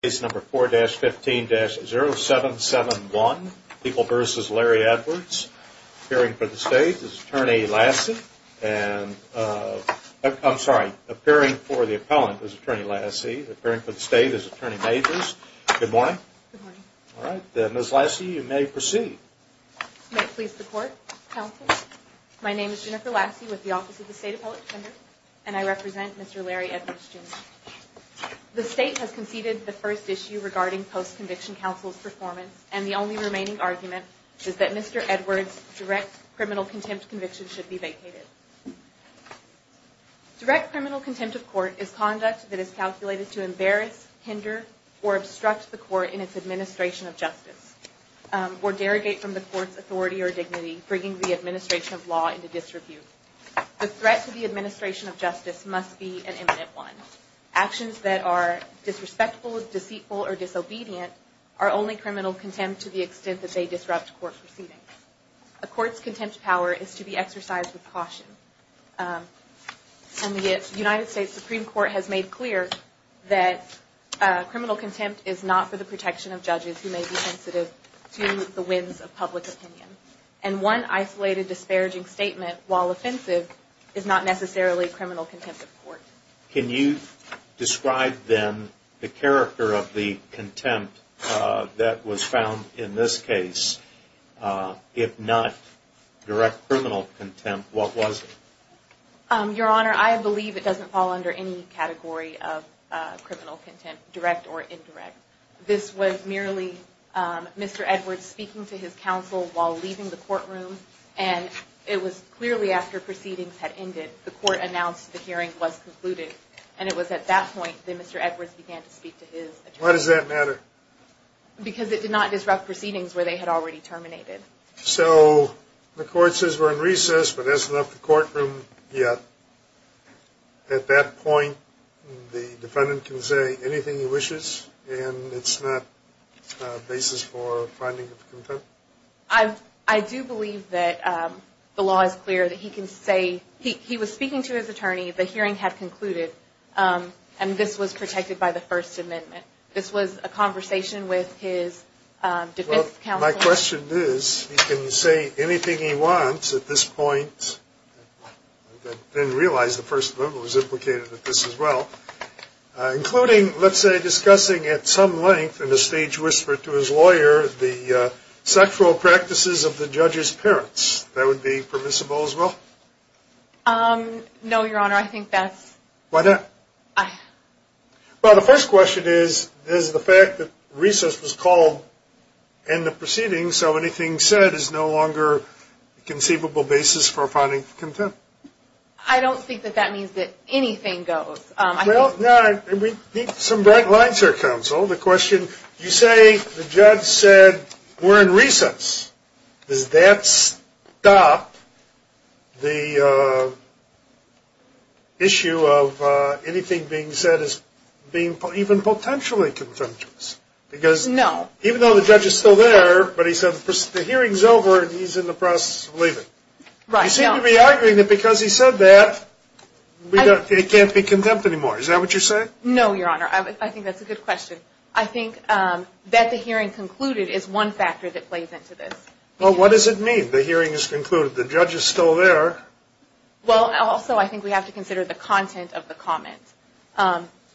Case number 4-15-0771, People v. Larry Edwards, appearing for the State as Attorney Lassie and, I'm sorry, appearing for the Appellant as Attorney Lassie, appearing for the State as Attorney Majors. Good morning. Good morning. Ms. Lassie, you may proceed. May it please the Court, Counsel, my name is Jennifer Lassie with the Office of the State Appellate Defender and I represent Mr. Larry Edwards Jr. The State has conceded the first issue regarding post-conviction counsel's performance and the only remaining argument is that Mr. Edwards' direct criminal contempt conviction should be vacated. Direct criminal contempt of court is conduct that is calculated to embarrass, hinder, or obstruct the court in its administration of justice, or derogate from the court's authority or dignity, bringing the administration of law into disrepute. The threat to the administration of justice must be an imminent one. Actions that are disrespectful, deceitful, or disobedient are only criminal contempt to the extent that they disrupt court proceedings. A court's contempt power is to be exercised with caution. And the United States Supreme Court has made clear that criminal contempt is not for the protection of judges who may be sensitive to the whims of public opinion. And one isolated disparaging statement, while offensive, is not necessarily criminal contempt of court. Can you describe then the character of the contempt that was found in this case? If not direct criminal contempt, what was it? Your Honor, I believe it doesn't fall under any category of criminal contempt, direct or indirect. This was merely Mr. Edwards speaking to his counsel while leaving the courtroom and it was clearly after proceedings had ended. The court announced the hearing was concluded and it was at that point that Mr. Edwards began to speak to his attorney. Why does that matter? Because it did not disrupt proceedings where they had already terminated. So the court says we're in recess but hasn't left the courtroom yet. At that point the defendant can say anything he wishes and it's not a basis for finding contempt? I do believe that the law is clear that he can say he was speaking to his attorney, the hearing had concluded, and this was protected by the First Amendment. This was a conversation with his defense counsel. Well, my question is he can say anything he wants at this point. I didn't realize the First Amendment was implicated in this as well. Including, let's say, discussing at some length in a stage whisper to his lawyer the sexual practices of the judge's parents. That would be permissible as well? No, Your Honor, I think that's... Why not? Well, the first question is, is the fact that recess was called and the proceedings, so anything said, is no longer a conceivable basis for finding contempt? I don't think that that means that anything goes. Well, we need some bright lines here, counsel. The question, you say the judge said we're in recess. Does that stop the issue of anything being said as being even potentially contemptuous? No. Because even though the judge is still there, but he said the hearing's over and he's in the process of leaving. Right. You seem to be arguing that because he said that, it can't be contempt anymore. Is that what you're saying? No, Your Honor. I think that's a good question. I think that the hearing concluded is one factor that plays into this. Well, what does it mean, the hearing is concluded? The judge is still there. Well, also, I think we have to consider the content of the comment.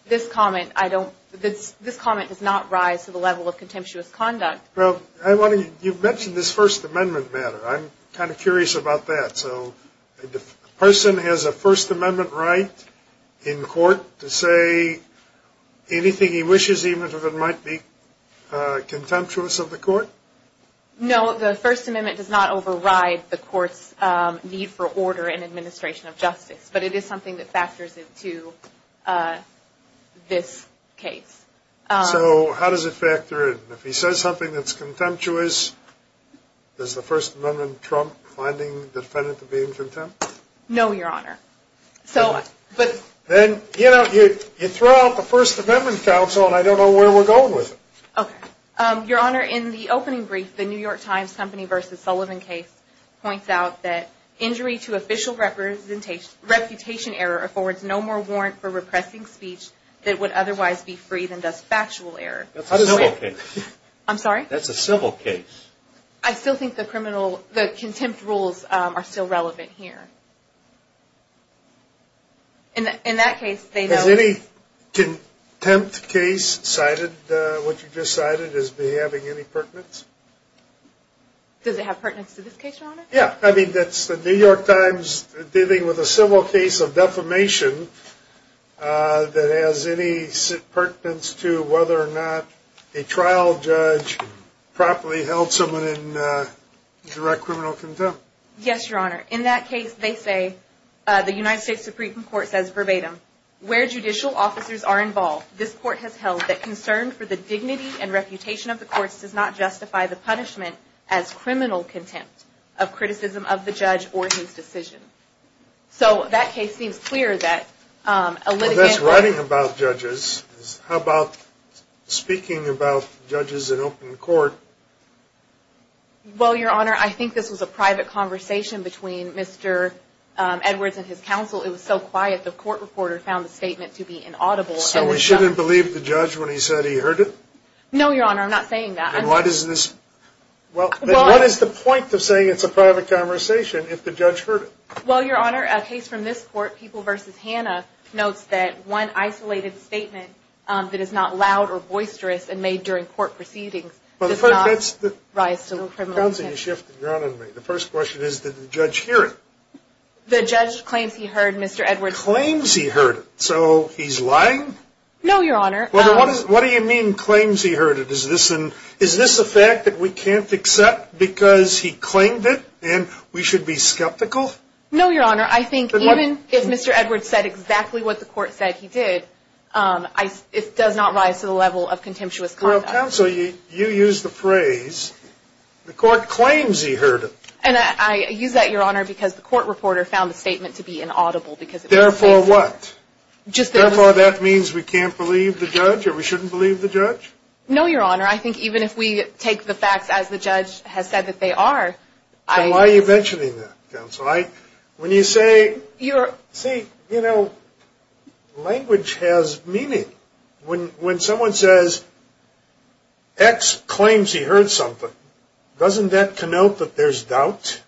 This comment does not rise to the level of contemptuous conduct. Well, you've mentioned this First Amendment matter. I'm kind of curious about that. So a person has a First Amendment right in court to say anything he wishes, even if it might be contemptuous of the court? No, the First Amendment does not override the court's need for order and administration of justice, but it is something that factors into this case. So how does it factor in? If he says something that's contemptuous, does the First Amendment trump finding the defendant to be in contempt? No, Your Honor. Then, you know, you throw out the First Amendment counsel, and I don't know where we're going with it. Okay. Your Honor, in the opening brief, the New York Times Company v. Sullivan case points out that injury to official reputation error affords no more warrant for repressing speech that would otherwise be free than does factual error. That's a civil case. I'm sorry? That's a civil case. I still think the contempt rules are still relevant here. Has any contempt case cited what you just cited as having any pertinence? Yeah. I mean, that's the New York Times dealing with a civil case of defamation that has any pertinence to whether or not a trial judge properly held someone in direct criminal contempt. Yes, Your Honor. In that case, they say, the United States Supreme Court says verbatim, where judicial officers are involved, this court has held that concern for the dignity does not justify the punishment as criminal contempt of criticism of the judge or his decision. So that case seems clear that a litigant Well, that's writing about judges. How about speaking about judges in open court? Well, Your Honor, I think this was a private conversation between Mr. Edwards and his counsel. It was so quiet, the court reporter found the statement to be inaudible. So we shouldn't believe the judge when he said he heard it? No, Your Honor. I'm not saying that. And what is the point of saying it's a private conversation if the judge heard it? Well, Your Honor, a case from this court, People v. Hanna, notes that one isolated statement that is not loud or boisterous and made during court proceedings does not rise to criminal contempt. The first question is, did the judge hear it? The judge claims he heard Mr. Edwards' Claims he heard it. So he's lying? No, Your Honor. What do you mean, claims he heard it? Is this a fact that we can't accept because he claimed it and we should be skeptical? No, Your Honor. I think even if Mr. Edwards said exactly what the court said he did, it does not rise to the level of contemptuous conduct. Well, counsel, you used the phrase, the court claims he heard it. And I use that, Your Honor, because the court reporter found the statement to be inaudible. Therefore what? Therefore that means we can't believe the judge or we shouldn't believe the judge? No, Your Honor. I think even if we take the facts as the judge has said that they are. So why are you mentioning that, counsel? When you say, see, you know, language has meaning. When someone says, X claims he heard something, doesn't that connote that there's doubt?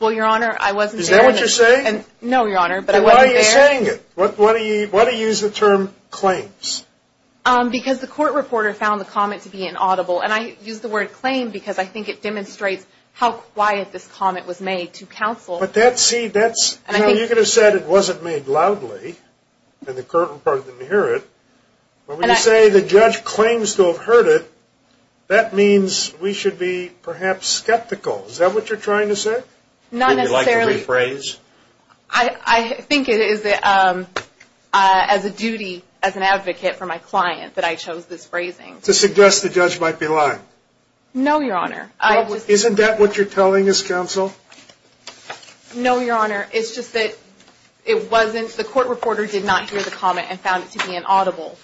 Well, Your Honor, I wasn't saying that. Is that what you're saying? No, Your Honor, but I wasn't there. Then why are you saying it? Why do you use the term claims? Because the court reporter found the comment to be inaudible. And I use the word claim because I think it demonstrates how quiet this comment was made to counsel. But that's, see, that's, you know, you could have said it wasn't made loudly and the court reporter didn't hear it. When we say the judge claims to have heard it, that means we should be perhaps skeptical. Is that what you're trying to say? Not necessarily. Would you like to rephrase? I think it is as a duty as an advocate for my client that I chose this phrasing. To suggest the judge might be lying. No, Your Honor. Isn't that what you're telling us, counsel? No, Your Honor. It's just that it wasn't, the court reporter did not hear the comment and found it to be inaudible.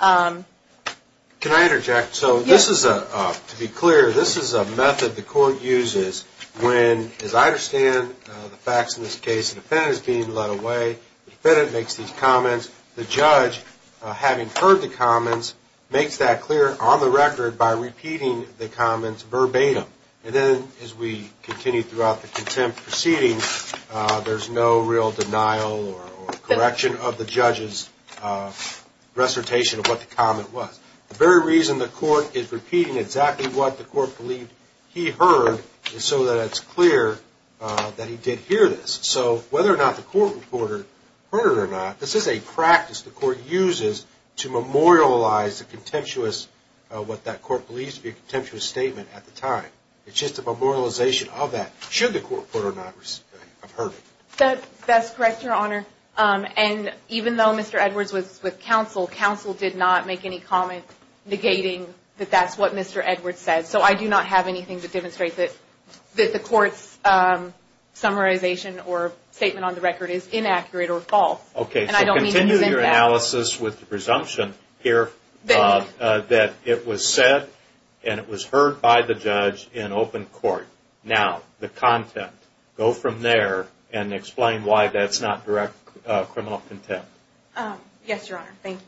Can I interject? Yes. To be clear, this is a method the court uses when, as I understand the facts in this case, the defendant is being led away, the defendant makes these comments, the judge, having heard the comments, makes that clear on the record by repeating the comments verbatim. And then as we continue throughout the contempt proceeding, there's no real denial or correction of the judge's recitation of what the comment was. The very reason the court is repeating exactly what the court believed he heard is so that it's clear that he did hear this. So whether or not the court reporter heard it or not, this is a practice the court uses to memorialize the contemptuous, what that court believes to be a contemptuous statement at the time. It's just a memorialization of that, should the court reporter not have heard it. That's correct, Your Honor. And even though Mr. Edwards was with counsel, counsel did not make any comment negating that that's what Mr. Edwards said. So I do not have anything to demonstrate that the court's summarization or statement on the record is inaccurate or false. Okay, so continue your analysis with the presumption here that it was said and it was heard by the judge in open court. Now, the contempt. Go from there and explain why that's not direct criminal contempt. Yes, Your Honor. Thank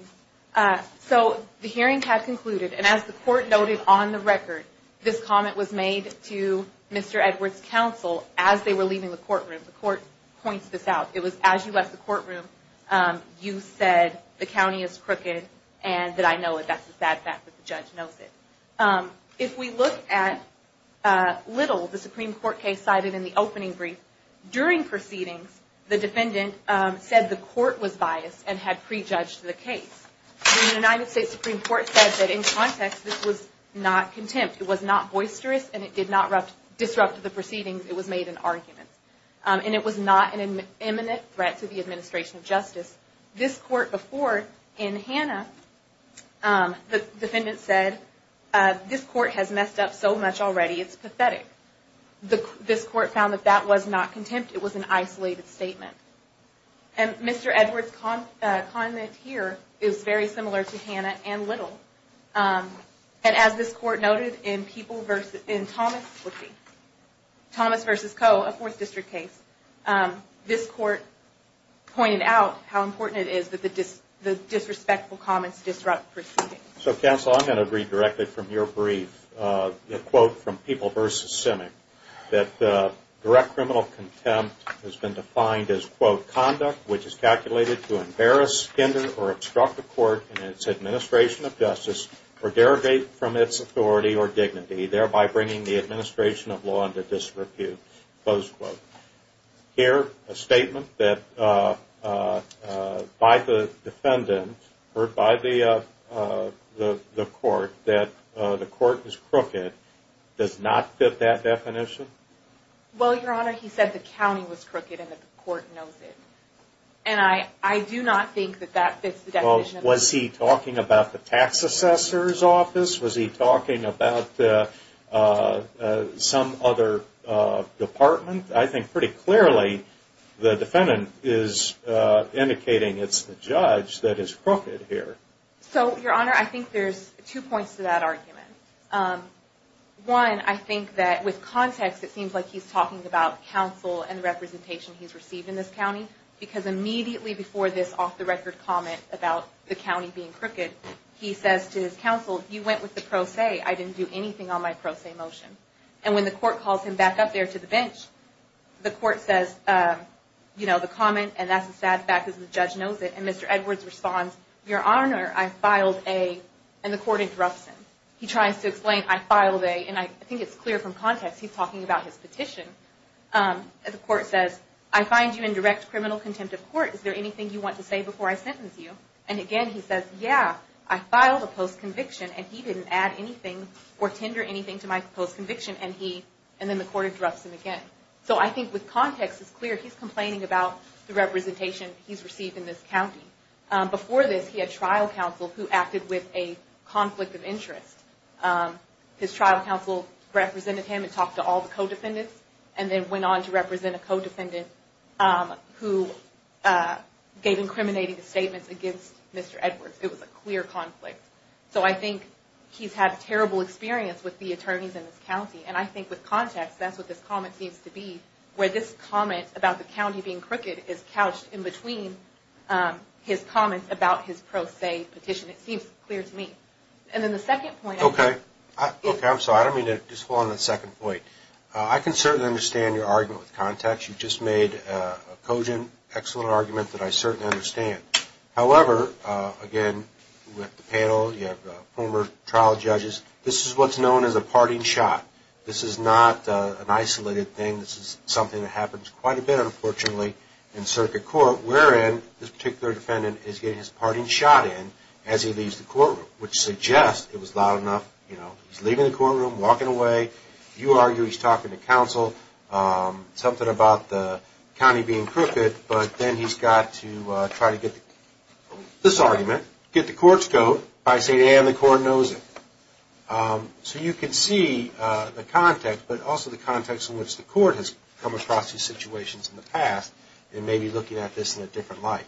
you. So the hearing had concluded, and as the court noted on the record, this comment was made to Mr. Edwards' counsel as they were leaving the courtroom. The court points this out. It was as you left the courtroom, you said the county is crooked and that I know it. That's a sad fact, but the judge knows it. If we look at Little, the Supreme Court case cited in the opening brief, during proceedings the defendant said the court was biased and had prejudged the case. The United States Supreme Court said that in context this was not contempt. It was not boisterous and it did not disrupt the proceedings. It was made in arguments. And it was not an imminent threat to the administration of justice. This court before, in Hanna, the defendant said, this court has messed up so much already it's pathetic. This court found that that was not contempt. It was an isolated statement. And Mr. Edwards' comment here is very similar to Hanna and Little. And as this court noted in Thomas v. Coe, a Fourth District case, this court pointed out how important it is that the disrespectful comments disrupt proceedings. So counsel, I'm going to read directly from your brief a quote from People v. Simic, that direct criminal contempt has been defined as, quote, conduct which is calculated to embarrass, spender, or obstruct the court in its administration of justice or derogate from its authority or dignity, thereby bringing the administration of law into disrepute, close quote. Here, a statement that by the defendant, heard by the court, that the court is crooked does not fit that definition? Well, Your Honor, he said the county was crooked and that the court knows it. And I do not think that that fits the definition. Was he talking about some other department? I think pretty clearly the defendant is indicating it's the judge that is crooked here. So, Your Honor, I think there's two points to that argument. One, I think that with context it seems like he's talking about counsel and the representation he's received in this county, because immediately before this off-the-record comment about the county being crooked, he says to his counsel, you went with the pro se. I didn't do anything on my pro se motion. And when the court calls him back up there to the bench, the court says, you know, the comment, and that's a sad fact because the judge knows it. And Mr. Edwards responds, Your Honor, I filed a, and the court interrupts him. He tries to explain, I filed a, and I think it's clear from context he's talking about his petition. The court says, I find you in direct criminal contempt of court. Is there anything you want to say before I sentence you? And, again, he says, yeah, I filed a post-conviction, and he didn't add anything or tender anything to my post-conviction. And then the court interrupts him again. So I think with context it's clear he's complaining about the representation he's received in this county. Before this, he had trial counsel who acted with a conflict of interest. His trial counsel represented him and talked to all the co-defendants and then went on to represent a co-defendant who gave incriminating statements against Mr. Edwards. It was a clear conflict. So I think he's had a terrible experience with the attorneys in this county, and I think with context that's what this comment seems to be, where this comment about the county being crooked is couched in between his comments about his pro se petition. It seems clear to me. And then the second point. Okay. Okay, I'm sorry. I don't mean to just fall on the second point. I can certainly understand your argument with context. You just made a cogent, excellent argument that I certainly understand. However, again, with the panel, you have former trial judges. This is what's known as a parting shot. This is not an isolated thing. This is something that happens quite a bit, unfortunately, in circuit court, wherein this particular defendant is getting his parting shot in as he leaves the courtroom, which suggests it was loud enough. He's leaving the courtroom, walking away. You argue he's talking to counsel, something about the county being crooked, but then he's got to try to get this argument, get the court's vote, by saying, and the court knows it. So you can see the context, but also the context in which the court has come across these situations in the past and may be looking at this in a different light.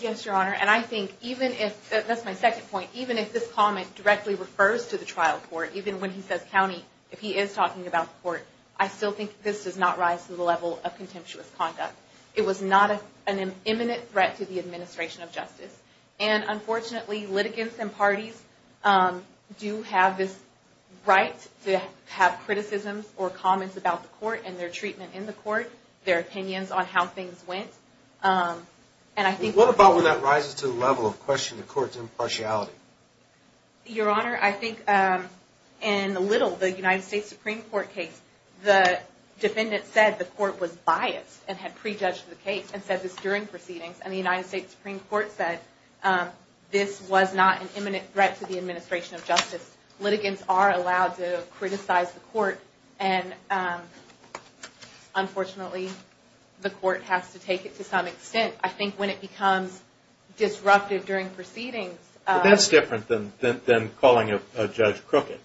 Yes, Your Honor, and I think even if, that's my second point, even if this comment directly refers to the trial court, even when he says county, if he is talking about the court, I still think this does not rise to the level of contemptuous conduct. It was not an imminent threat to the administration of justice, and unfortunately litigants and parties do have this right to have criticisms or comments about the court and their treatment in the court, their opinions on how things went. What about when that rises to the level of questioning the court's impartiality? Your Honor, I think in Little, the United States Supreme Court case, the defendant said the court was biased and had prejudged the case and said this during proceedings, and the United States Supreme Court said this was not an imminent threat to the administration of justice. Litigants are allowed to criticize the court, and unfortunately the court has to take it to some extent. I think when it becomes disruptive during proceedings, That's different than calling a judge crooked.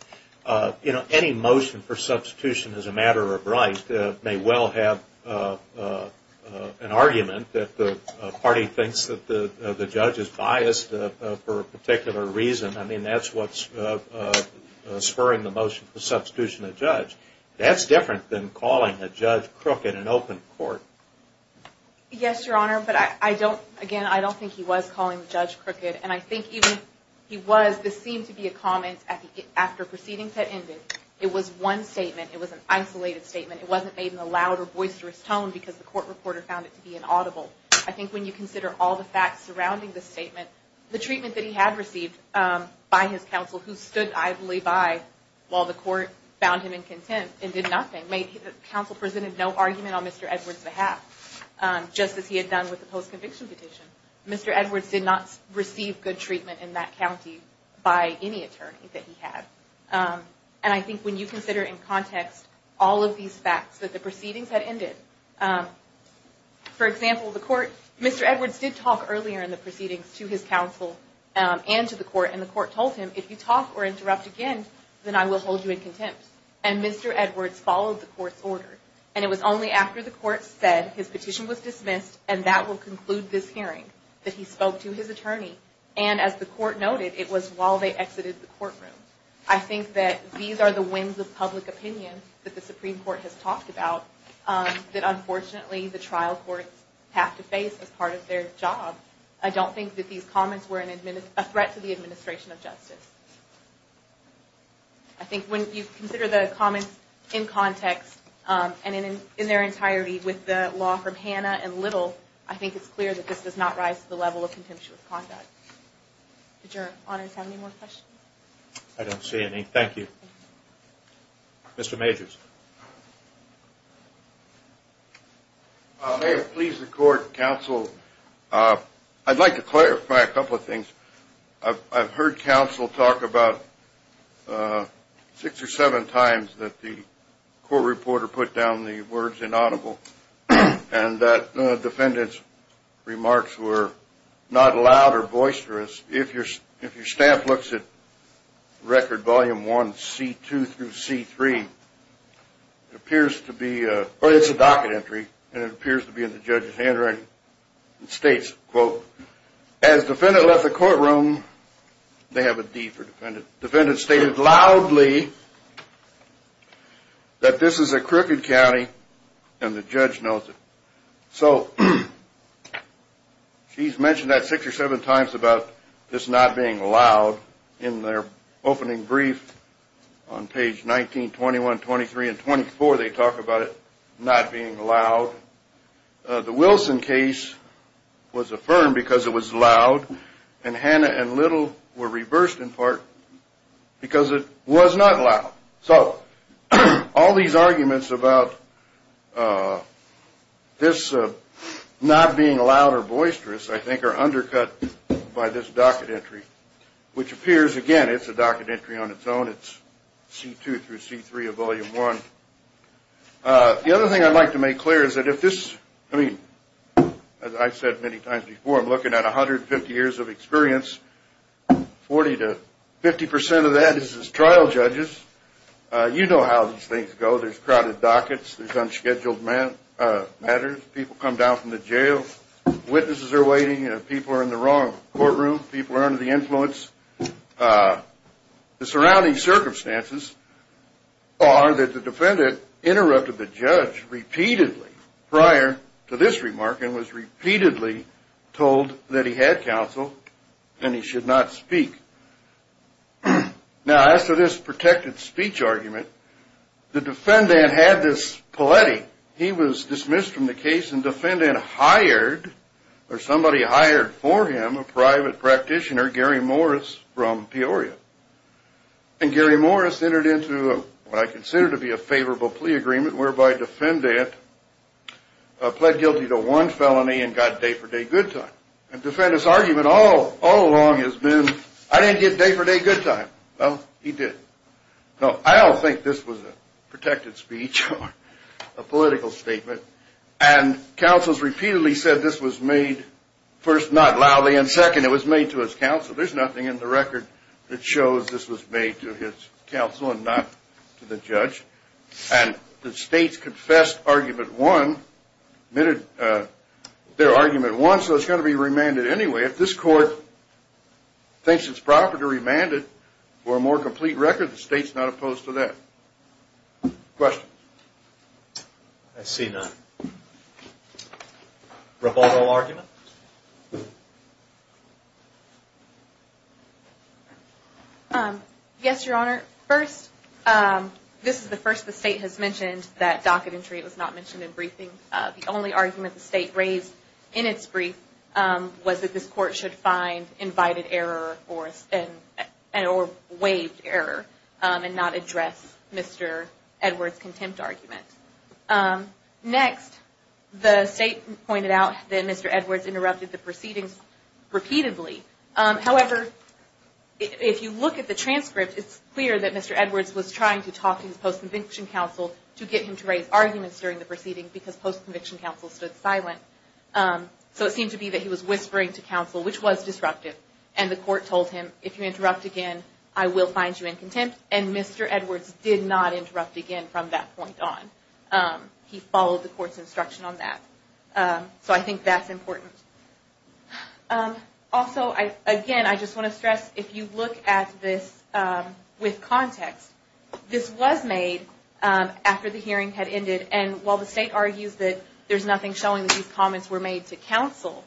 Any motion for substitution as a matter of right may well have an argument that the party thinks that the judge is biased for a particular reason. I mean, that's what's spurring the motion for substitution of the judge. That's different than calling a judge crooked in open court. Yes, Your Honor, but again, I don't think he was calling the judge crooked, and I think even if he was, this seemed to be a comment after proceedings had ended. It was one statement. It was an isolated statement. It wasn't made in a loud or boisterous tone because the court reporter found it to be inaudible. I think when you consider all the facts surrounding the statement, the treatment that he had received by his counsel, who stood idly by while the court found him in contempt and did nothing, counsel presented no argument on Mr. Edwards' behalf, just as he had done with the post-conviction petition. Mr. Edwards did not receive good treatment in that county by any attorney that he had. And I think when you consider in context all of these facts that the proceedings had ended, for example, Mr. Edwards did talk earlier in the proceedings to his counsel and to the court, and the court told him, if you talk or interrupt again, then I will hold you in contempt. And Mr. Edwards followed the court's order. And it was only after the court said his petition was dismissed and that will conclude this hearing that he spoke to his attorney. And as the court noted, it was while they exited the courtroom. I think that these are the winds of public opinion that the Supreme Court has talked about that unfortunately the trial courts have to face as part of their job. I don't think that these comments were a threat to the administration of justice. I think when you consider the comments in context and in their entirety with the law from Hanna and Little, I think it's clear that this does not rise to the level of contemptuous conduct. Did your honors have any more questions? I don't see any. Thank you. Mr. Majors. May it please the court, counsel, I'd like to clarify a couple of things. I've heard counsel talk about six or seven times that the court reporter put down the words inaudible and that defendant's remarks were not loud or boisterous. If your staff looks at Record Volume 1, C2 through C3, it appears to be a docket entry and it appears to be in the judge's handwriting. It states, quote, as defendant left the courtroom, they have a deed for defendant. Defendant stated loudly that this is a crooked county and the judge knows it. So she's mentioned that six or seven times about this not being loud. In their opening brief on page 19, 21, 23, and 24, they talk about it not being loud. The Wilson case was affirmed because it was loud, and Hannah and Little were reversed in part because it was not loud. So all these arguments about this not being loud or boisterous, I think, are undercut by this docket entry, which appears, again, it's a docket entry on its own. It's C2 through C3 of Volume 1. The other thing I'd like to make clear is that if this, I mean, as I've said many times before, I'm looking at 150 years of experience, 40 to 50 percent of that is as trial judges. You know how these things go. There's crowded dockets. There's unscheduled matters. People come down from the jail. Witnesses are waiting. People are in the wrong courtroom. People are under the influence. The surrounding circumstances are that the defendant interrupted the judge repeatedly prior to this remark and was repeatedly told that he had counsel and he should not speak. Now, as to this protected speech argument, the defendant had this paletti. He was dismissed from the case, and the defendant hired, or somebody hired for him, a private practitioner, Gary Morris from Peoria. And Gary Morris entered into what I consider to be a favorable plea agreement, whereby the defendant pled guilty to one felony and got day-for-day good time. And the defendant's argument all along has been, I didn't get day-for-day good time. Well, he did. Now, I don't think this was a protected speech or a political statement, and counsels repeatedly said this was made first not loudly and second it was made to his counsel. There's nothing in the record that shows this was made to his counsel and not to the judge. And the states confessed argument one, admitted their argument one, so it's going to be remanded anyway. If this court thinks it's proper to remand it for a more complete record, the state's not opposed to that. Questions? I see none. Rivaldo argument? Yes, Your Honor. First, this is the first the state has mentioned that docket entry was not mentioned in briefing. The only argument the state raised in its brief was that this court should find invited error or waived error and not address Mr. Edwards' contempt argument. Next, the state pointed out that Mr. Edwards interrupted the proceedings repeatedly. However, if you look at the transcript, it's clear that Mr. Edwards was trying to talk to his post-conviction counsel to get him to raise arguments during the proceedings because post-conviction counsel stood silent. So it seemed to be that he was whispering to counsel, which was disruptive. And the court told him, if you interrupt again, I will find you in contempt. And Mr. Edwards did not interrupt again from that point on. He followed the court's instruction on that. So I think that's important. Also, again, I just want to stress, if you look at this with context, this was made after the hearing had ended. And while the state argues that there's nothing showing that these comments were made to counsel,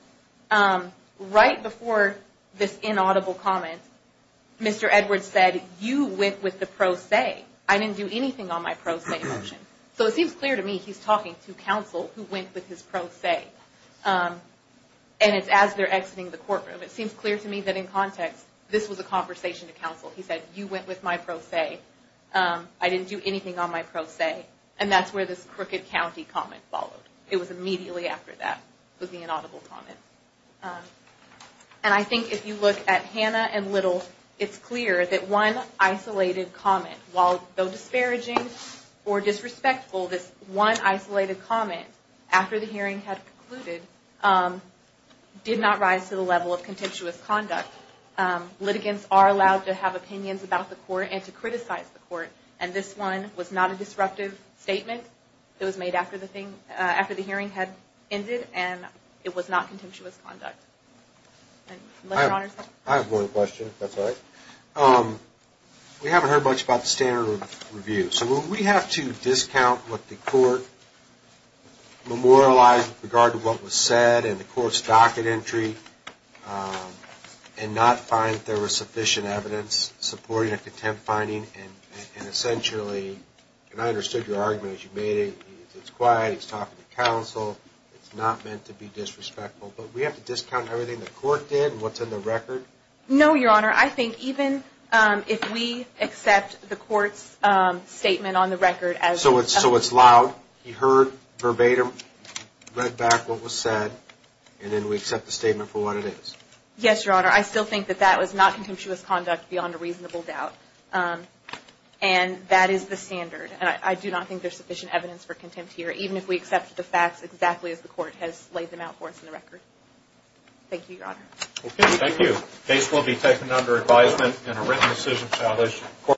right before this inaudible comment, Mr. Edwards said, you went with the pro se. I didn't do anything on my pro se motion. So it seems clear to me he's talking to counsel who went with his pro se. And it's as they're exiting the courtroom. It seems clear to me that in context, this was a conversation to counsel. He said, you went with my pro se. I didn't do anything on my pro se. And that's where this crooked county comment followed. It was immediately after that was the inaudible comment. And I think if you look at Hannah and Little, it's clear that one isolated comment, while though disparaging or disrespectful, this one isolated comment after the hearing had concluded, did not rise to the level of contemptuous conduct. Litigants are allowed to have opinions about the court and to criticize the court. And this one was not a disruptive statement. It was made after the hearing had ended. And it was not contemptuous conduct. I have one question, if that's all right. We haven't heard much about the standard of review. So will we have to discount what the court memorialized with regard to what was said and the court's docket entry and not find that there was sufficient evidence supporting a contempt finding and essentially, and I understood your argument as you made it. It's quiet. He's talking to counsel. It's not meant to be disrespectful. But we have to discount everything the court did and what's in the record? No, Your Honor. I think even if we accept the court's statement on the record as- So it's loud. He heard verbatim, read back what was said, and then we accept the statement for what it is. Yes, Your Honor. I still think that that was not contemptuous conduct beyond a reasonable doubt. And that is the standard. And I do not think there's sufficient evidence for contempt here, even if we accept the facts exactly as the court has laid them out for us in the record. Thank you, Your Honor. Okay, thank you. Case will be taken under advisement and a written decision established.